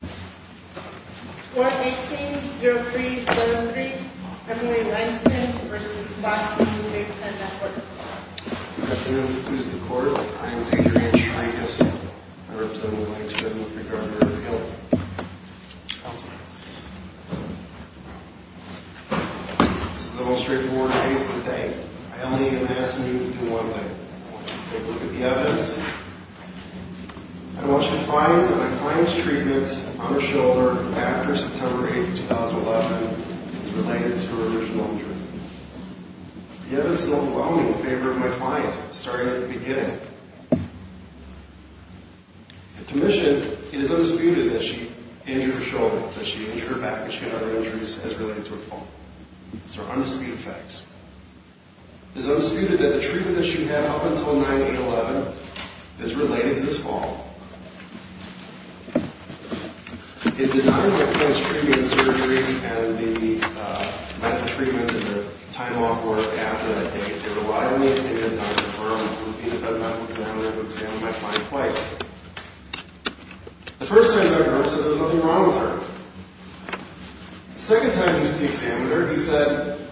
Court 18-03-703, Emily Weinstein v. Fox News 810-Network Good afternoon. Who's the court? My name is Adrian Shrankus. I represent the likes of McGarver and Hill. This is the most straightforward case of the day. I only am asking you to do one thing. I want you to take a look at the evidence. I want you to find that my client's treatment on her shoulder after September 8, 2011 is related to her original injuries. The evidence is overwhelming in favor of my client, starting at the beginning. The commission, it is undisputed that she injured her shoulder, that she injured her back, that she had other injuries as related to her fall. These are undisputed facts. It is undisputed that the treatment that she had up until 9-8-11 is related to this fall. It did not include post-treatment surgeries and the medical treatment and the time off work after the 8th. It relied on the opinion of Dr. Burr, who was the developmental examiner who examined my client twice. The first time, Dr. Burr said there was nothing wrong with her. The second time he was the examiner, he said,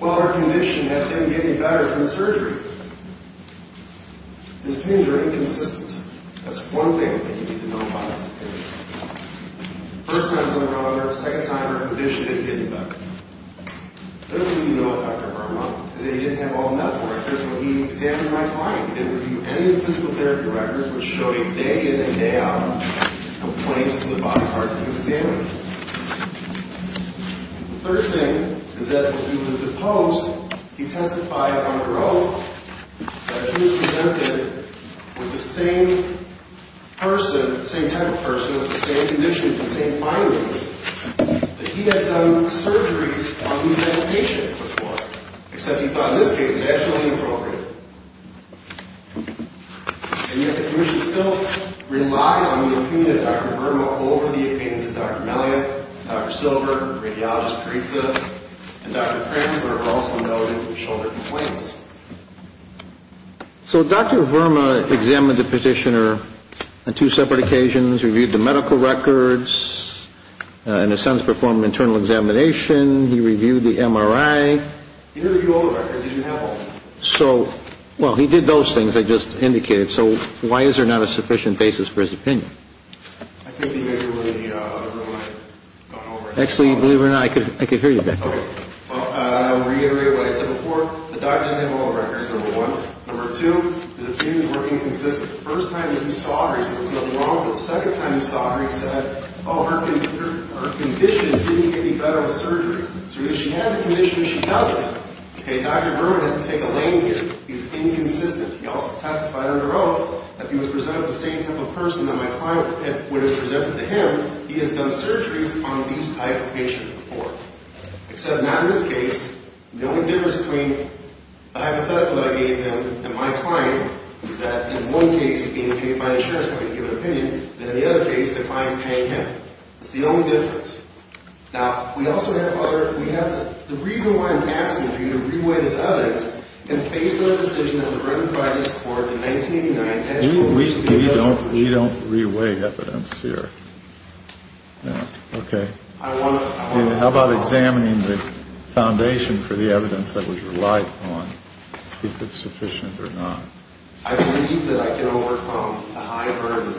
well, her condition hasn't been getting better from the surgery. His pains are inconsistent. That's one thing that you need to know about these pains. The first time he was the examiner, the second time her condition didn't get any better. The other thing you know about Dr. Burr is that he didn't have all the medical records when he examined my client. He didn't review any of the physical therapy records, which showed a day in and day out of complaints to the bodyguards that he was examining. The third thing is that when he was deposed, he testified under oath that he was presented with the same person, the same type of person, with the same conditions, the same findings, that he had done surgeries on these same patients before, except he thought in this case it was actually inappropriate. And yet the commission still relied on the opinion of Dr. Verma over the opinions of Dr. Melliot, Dr. Silver, radiologist Parizza, and Dr. Kremsler also noted the shoulder complaints. So Dr. Verma examined the petitioner on two separate occasions, reviewed the medical records, in a sense performed an internal examination, he reviewed the MRI. He didn't review all the records, he didn't have all of them. So, well, he did those things I just indicated. So why is there not a sufficient basis for his opinion? I think the opinion of Dr. Verma had gone over. Actually, believe it or not, I could hear you back there. Well, I'll reiterate what I said before. The doctor didn't have all the records, number one. Number two, his opinion of working consistent. The first time that he saw her, he said there was nothing wrong with her. The second time he saw her, he said, oh, her condition didn't get any better with surgery. So either she has a condition or she doesn't. Okay, Dr. Verma doesn't take a lane here. He's inconsistent. He also testified under oath that if he was presented with the same type of person that my client would have presented to him, he has done surgeries on these type of patients before. Except not in this case. The only difference between the hypothetical that I gave him and my client is that in one case he's being paid by the insurance company to give an opinion, and in the other case the client's paying him. It's the only difference. Now, we also have other, we have, the reason why I'm asking for you to re-weigh this evidence is based on a decision that was written by this court in 1989. We don't re-weigh evidence here. Okay. How about examining the foundation for the evidence that was relied on, see if it's sufficient or not. I believe that I can overcome the high burden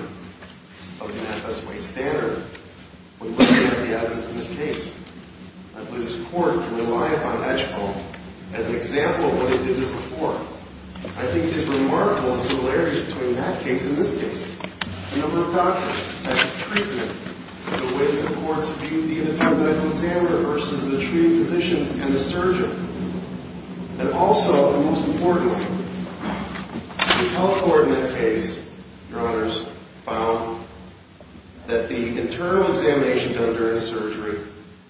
of the FS-8 standard when looking at the evidence in this case. I believe this court can rely upon Edgecombe as an example of why they did this before. I think it's remarkable the similarities between that case and this case. The number of doctors, the type of treatment, the way that the courts viewed the independent examiner versus the treating physicians and the surgeon. And also, most importantly, the health court in that case, Your Honors, found that the internal examination done during the surgery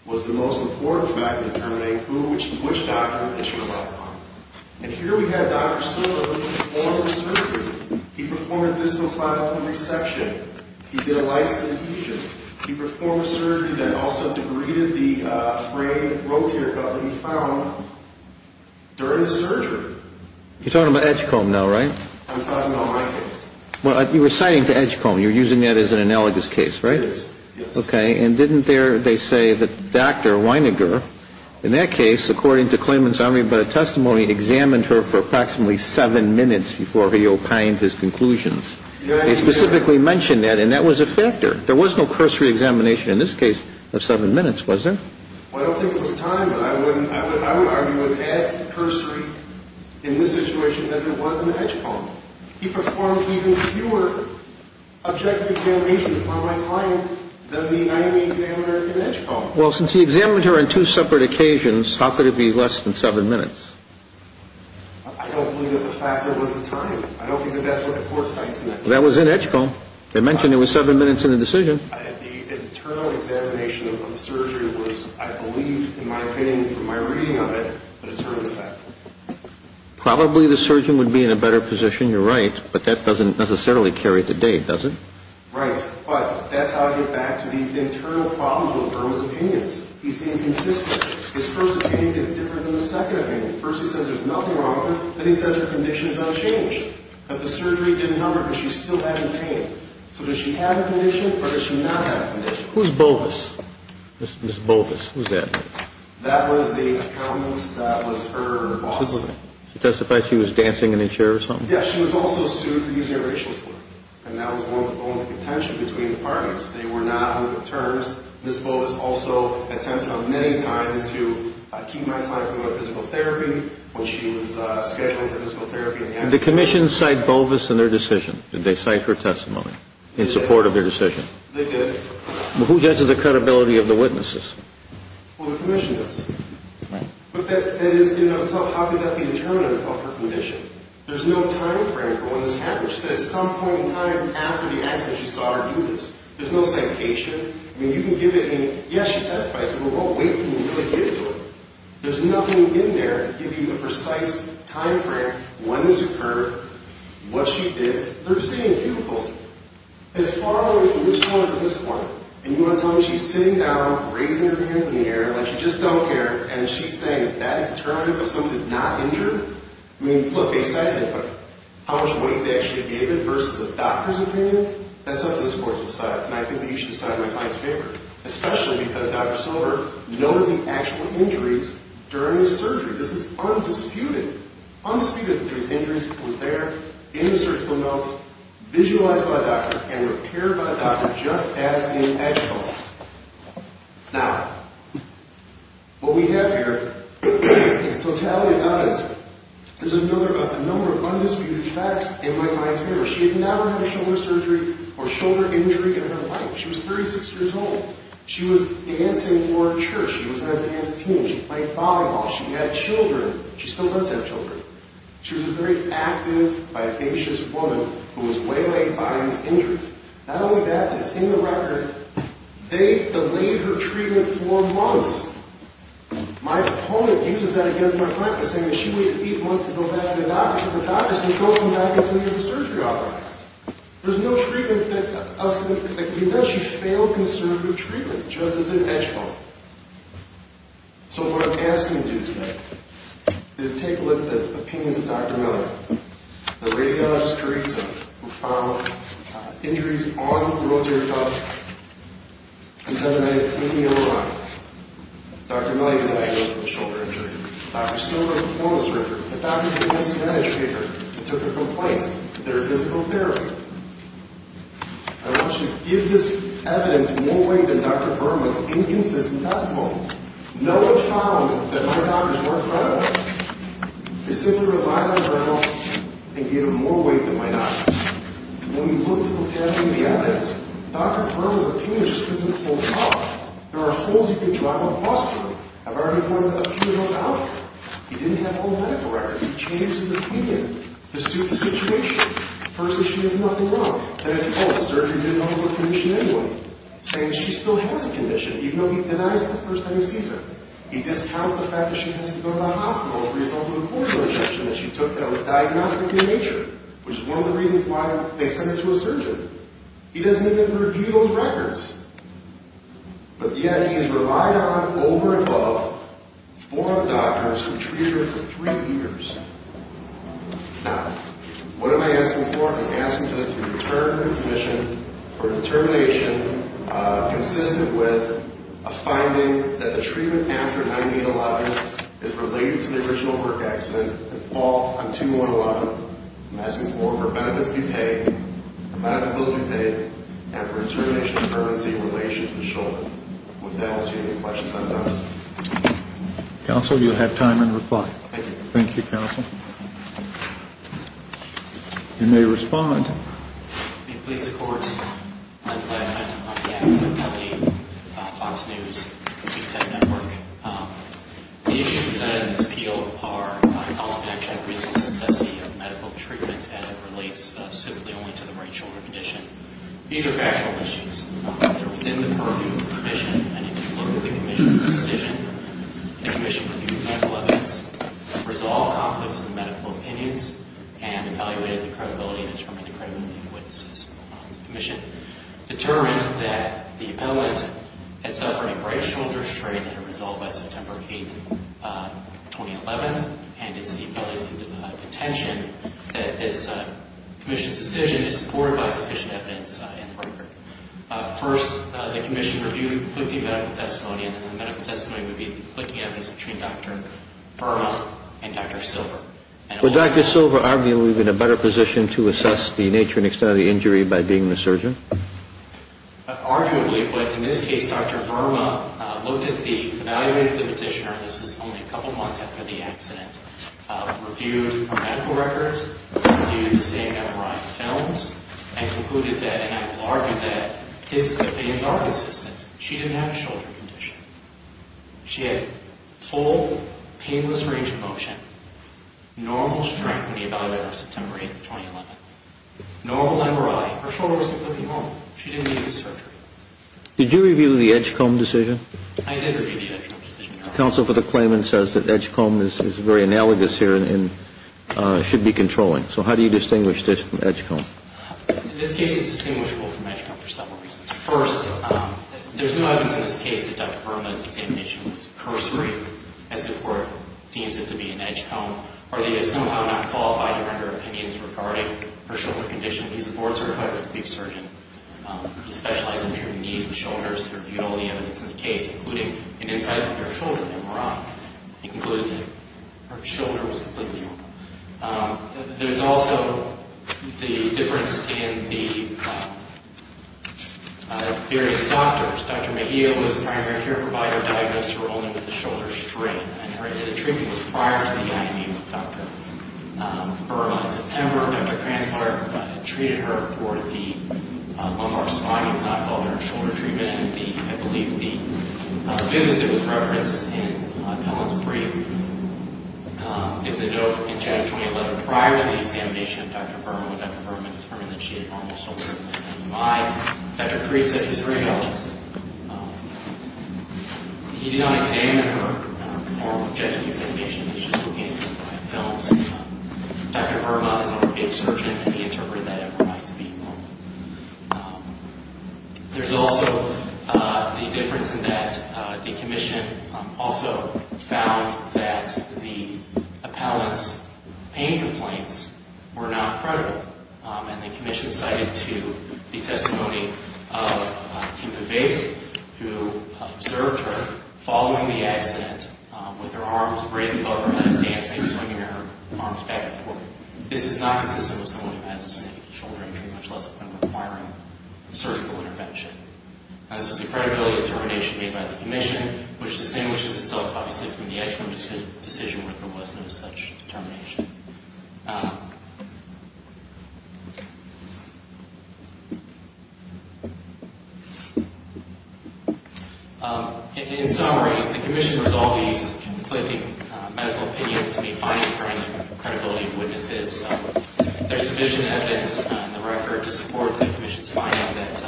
was the most important factor in determining which doctor it should rely upon. And here we have Dr. Silver who performed the surgery. He performed a fistula clavicle resection. He did a lice adhesions. He performed a surgery that also degraded the frayed rotator cuff that he found during the surgery. You're talking about Edgecombe now, right? I'm talking about my case. Well, you were citing to Edgecombe. You're using that as an analogous case, right? Yes. Okay. And didn't they say that Dr. Weininger, in that case, according to claimant's armory, but a testimony examined her for approximately seven minutes before he opined his conclusions. They specifically mentioned that, and that was a factor. There was no cursory examination in this case of seven minutes, was there? Well, I don't think it was time, but I would argue it was as cursory in this situation as it was in Edgecombe. He performed even fewer objective examinations on my client than the 90-day examiner in Edgecombe. Well, since he examined her on two separate occasions, how could it be less than seven minutes? I don't believe that the factor was the time. I don't think that that's what the court cites in that case. That was in Edgecombe. They mentioned it was seven minutes in the decision. The internal examination of the surgery was, I believe, in my opinion from my reading of it, a determined factor. Probably the surgeon would be in a better position, you're right, but that doesn't necessarily carry the date, does it? Right. But that's how I get back to the internal problem with Burma's opinions. He's inconsistent. His first opinion isn't different than the second opinion. First he says there's nothing wrong with her, and then he says her condition has not changed. That the surgery didn't help her because she still had the pain. So does she have a condition or does she not have a condition? Who's Bovis? Ms. Bovis. Who's that? That was the accountant that was her boss. She testified she was dancing in a chair or something? Yes. She was also sued for using a racial slur, and that was one of the bones of contention between the parties. They were not on good terms. Ms. Bovis also attempted on many times to keep my client from going to physical therapy when she was scheduled for physical therapy. Did the commission cite Bovis in their decision? Did they cite her testimony in support of their decision? They did. Who judges the credibility of the witnesses? Well, the commission does. Right. But that is, in and of itself, how could that be a determinant of her condition? There's no timeframe for when this happened. She said at some point in time after the accident she saw her do this. There's no citation. I mean, you can give it any—yes, she testified to it, but what weight can you really give to it? There's nothing in there to give you the precise timeframe when this occurred, what she did. They're sitting in cubicles as far away from this corner to this corner. And you want to tell me she's sitting down, raising her hands in the air like she just don't care, and she's saying that is a determinant of somebody's not injured? I mean, look, they cited it, but how much weight they actually gave it versus the doctor's opinion? That's up to the courts to decide, and I think that you should decide in my client's favor, especially because Dr. Silver noted the actual injuries during the surgery. This is undisputed. Undisputed that there was injuries that were there in the surgical notes, visualized by a doctor, and repaired by a doctor just as in actual. Now, what we have here is totality of evidence. There's a number of undisputed facts in my client's favor. She had never had a shoulder surgery or shoulder injury in her life. She was 36 years old. She was dancing for a church. She was an advanced teen. She played volleyball. She had children. She still does have children. She was a very active, vivacious woman who was waylaid by these injuries. Not only that, but it's in the record. They delayed her treatment for months. My opponent uses that against my client by saying that she waited eight months to go back to the doctor. The doctor said, go home now. Continue the surgery you authorized. There's no treatment that could eventually fail conservative treatment just as in actual. So what I'm asking you to do today is take a look at the opinions of Dr. Miller, the radiologist who found injuries on the rotator cuff, and have a nice 80-year-old life. Dr. Miller, you have a shoulder injury. Dr. Silver, the formalist, the doctor's advanced care taker, took the complaints that are physical therapy. I want you to give this evidence more weight than Dr. Berman's inconsistent testimony. No one found that my doctors weren't credible. They simply relied on it and gave them more weight than my doctors. When we look at the evidence, Dr. Berman's opinion just doesn't hold up. There are holes you could drive a bus through. I've already put a few of those out there. He didn't have all the medical records. He changed his opinion to suit the situation. The first issue is nothing wrong. Then it's, oh, the surgery didn't overcommission anyone. Saying she still has a condition, even though he denies it the first time he sees her. He discounts the fact that she has to go to the hospital as a result of a cordial injection that she took that was diagnostically in nature, which is one of the reasons why they sent her to a surgeon. He doesn't even review those records. But yet he has relied on it over and above four of the doctors who treated her for three years. Now, what am I asking for? I'm asking for this to be returned to the commission for determination consistent with a finding that the treatment after 9-8-11 is related to the original work accident and fall on 2-1-1. I'm asking for the benefits you pay, the medical bills you pay, and for determination of currency in relation to the shoulder. Would that answer any questions I've done? Counsel, you'll have time and reply. Thank you. Thank you, counsel. You may respond. I'm glad I'm on the academic company, Fox News. The issues presented in this appeal are cost-benefit, resource necessity of medical treatment as it relates specifically only to the right shoulder condition. These are factual issues. They're within the purview of the commission. I need you to look at the commission's decision. The commission reviewed medical evidence, resolved conflicts in medical opinions, and evaluated the credibility and determined the credibility of witnesses. The commission determined that the ailment had suffered a right shoulder strain and was resolved by September 8, 2011, and it's the ability to give contention that this commission's decision is supported by sufficient evidence in the record. First, the commission reviewed conflicting medical testimony, and the medical testimony would be conflicting evidence between Dr. Burns and Dr. Silver. Would Dr. Silver arguably be in a better position to assess the nature and extent of the injury by being a surgeon? Arguably, but in this case, Dr. Verma looked at the evaluation of the petitioner, and this was only a couple of months after the accident, reviewed her medical records, reviewed the same number of films, and concluded that, and I will argue that, his opinions are consistent. She didn't have a shoulder condition. She had full, painless range of motion, normal strength when we evaluated her September 8, 2011, normal lumbar alley. Her shoulder was completely normal. She didn't need surgery. Did you review the Edgecombe decision? I did review the Edgecombe decision. Counsel for the claimant says that Edgecombe is very analogous here and should be controlling. So how do you distinguish this from Edgecombe? This case is distinguishable from Edgecombe for several reasons. First, there's no evidence in this case that Dr. Verma's examination was cursory, as the court deems it to be in Edgecombe, or that he is somehow not qualified to render opinions regarding her shoulder condition. He's a board-certified orthopedic surgeon. He specializes in treating knees and shoulders. He reviewed all the evidence in the case, including an insight into her shoulder that were wrong. He concluded that her shoulder was completely normal. There's also the difference in the various doctors. Dr. Mejia was the primary care provider who diagnosed her only with the shoulder strain. The treatment was prior to the IME with Dr. Verma. In September, Dr. Kranzler treated her for the lumbar spine. It was not called her shoulder treatment. I believe the visit that was referenced in Helen's brief is a note in January 2011, prior to the examination of Dr. Verma, when Dr. Verma determined that she had normal shoulder. Dr. Kranzler is a radiologist. He did not examine her for objective examination. He was just looking at films. Dr. Verma is an orthopedic surgeon, and he interpreted that as normal. There's also the difference in that the commission also found that the appellant's pain complaints were not credible. The commission cited the testimony of Kimpa Face, who observed her following the accident with her arms raised above her head, dancing, swinging her arms back and forth. This is not consistent with someone who has the same shoulder injury, much less been requiring surgical intervention. This is a credibility determination made by the commission, which distinguishes itself, obviously, from the actual decision whether there was no such determination. In summary, the commission resolves these conflicting medical opinions to be fine-tuned for credibility of witnesses. There's sufficient evidence in the record to support the commission's finding that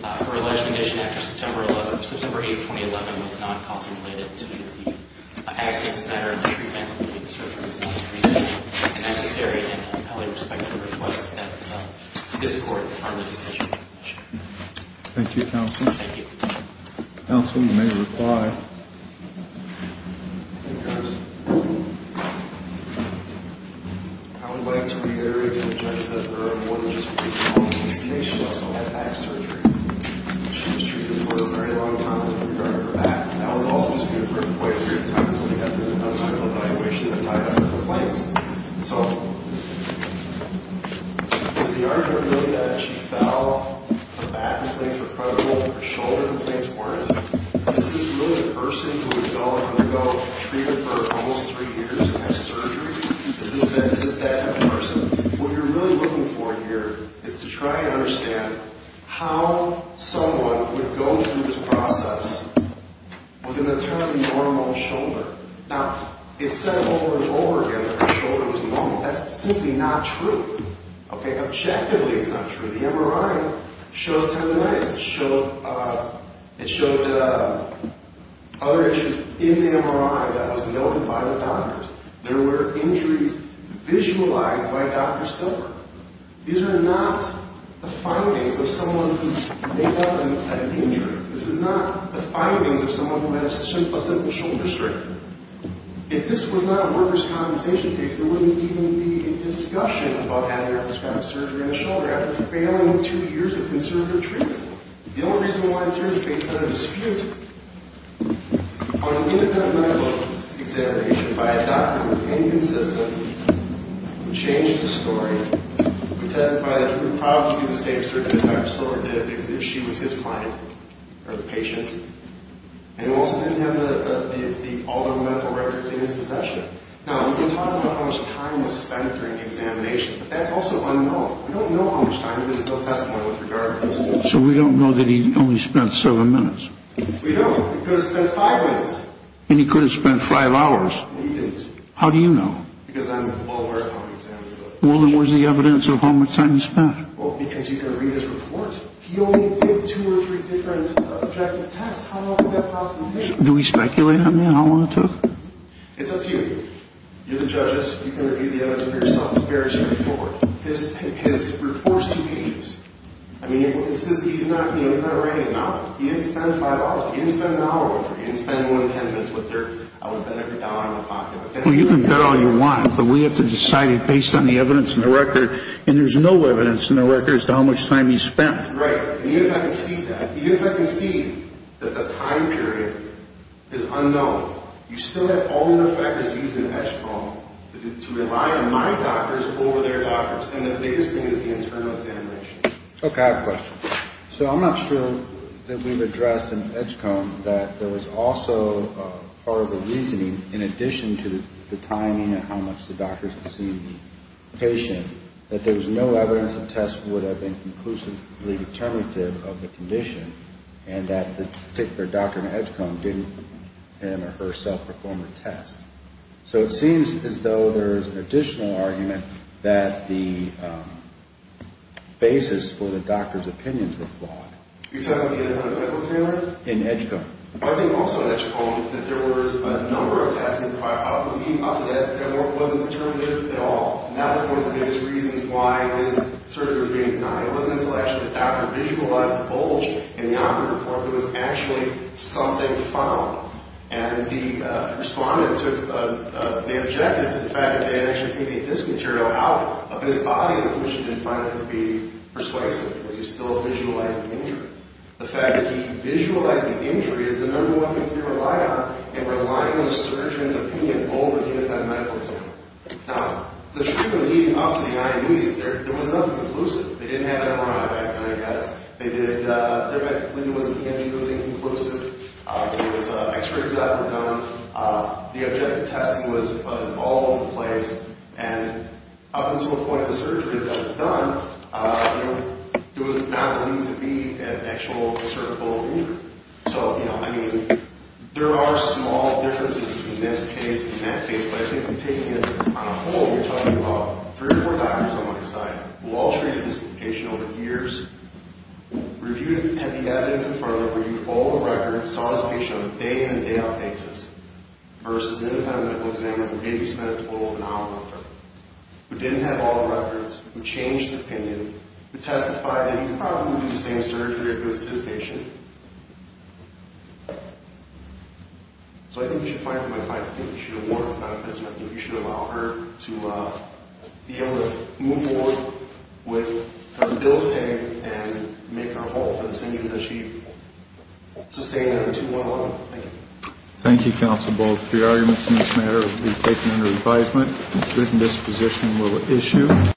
her alleged condition after September 8, 2011, was not causally related to the accidents that are in the treatment, and necessary in a compelling respect to the request of this court on the decision of the commission. Thank you, Counsel. Thank you. Counsel, you may reply. I would like to reiterate to the judges that Verma wasn't just free from the hallucination. She also had back surgery. She was treated for a very long time. In regard to her back, that was also disputed for quite a period of time until they got to an unspecified evaluation that tied up her complaints. So, is the argument really that she fell, her back complaints were credible, her shoulder complaints weren't? Is this really a person who would go undergo treatment for almost three years and have surgery? Is this that type of person? What you're really looking for here is to try and understand how someone would go through this process with an eternally normal shoulder. Now, it's said over and over again that her shoulder was normal. That's simply not true. Okay? Objectively, it's not true. The MRI shows tendinitis. It showed other issues in the MRI that was noted by the doctors. There were injuries visualized by Dr. Silver. These are not the findings of someone who made up an injury. This is not the findings of someone who had a simple shoulder strain. If this was not a workers' compensation case, there wouldn't even be a discussion about having laparoscopic surgery on the shoulder after failing two years of conservative treatment. The only reason why it's here is based on a dispute on an independent medical examination by a doctor who was inconsistent, who changed the story, who testified that he would probably do the same surgery that Dr. Silver did if she was his client or the patient, and also didn't have all the medical records in his possession. Now, we can talk about how much time was spent during the examination, but that's also unknown. We don't know how much time. There's no testimony with regard to this. So we don't know that he only spent seven minutes? We don't. He could have spent five minutes. And he could have spent five hours. He didn't. How do you know? Well, then where's the evidence of how much time he spent? Do we speculate on that, how long it took? It's up to you. You're the judges. You can review the evidence for yourself. It varies from report. His report's two pages. I mean, he's not writing a novel. He didn't spend five hours. He didn't spend an hour with her. He didn't spend more than ten minutes with her. I wouldn't bet every dollar on the pot. Well, you can bet all you want, but we have to decide it based on the evidence in the record, and there's no evidence in the record as to how much time he spent. Right. Even if I can see that, even if I can see that the time period is unknown, you still have all the factors used in Edgecombe to rely on my doctors over their doctors, and the biggest thing is the internal examination. Okay. I have a question. So I'm not sure that we've addressed in Edgecombe that there was also horrible reasoning in addition to the timing and how much the doctors had seen the patient, that there was no evidence that tests would have been conclusively determinative of the condition, and that the particular doctor in Edgecombe didn't him or her self-perform the test. So it seems as though there's an additional argument that the basis for the doctor's opinions were flawed. You're talking in a clinical examiner? In Edgecombe. I think also in Edgecombe that there was a number of tests, and probably up to that, there wasn't determinative at all. That was one of the biggest reasons why this surgery was being denied. It wasn't until actually the doctor visualized the bulge in the operative report there was actually something found, and the respondent took the objective to the fact that they had actually taken the disc material out of his body, which you didn't find that to be persuasive because you still visualized the injury. The fact that he visualized the injury is the number one thing to rely on in relying on a surgeon's opinion, more than any kind of medical examiner. Now, the treatment leading up to the IUDs, there was nothing conclusive. They didn't have MRI back then, I guess. Therapeutically, there wasn't any of those things conclusive. There was x-rays that were done. The objective testing was all in place, and up until the point of the surgery that was done, there was not a need to be an actual assertible injury. So, I mean, there are small differences between this case and that case, but I think when taking it on a whole, you're talking about three or four doctors on one side who all treated this patient over the years, reviewed the evidence in front of them, reviewed all the records, saw this patient on a day-in and day-out basis versus an independent medical examiner who maybe spent a little over an hour with her, who didn't have all the records, who changed his opinion, who testified that he would probably do the same surgery if it was his patient. So I think we should fight for my client. I think we should award her with a medical certificate. I think we should allow her to be able to move forward with having bills paid and make her whole for this injury that she sustained for too long. Thank you. Thank you, counsel. Both your arguments in this matter will be taken under advisement. The written disposition will issue.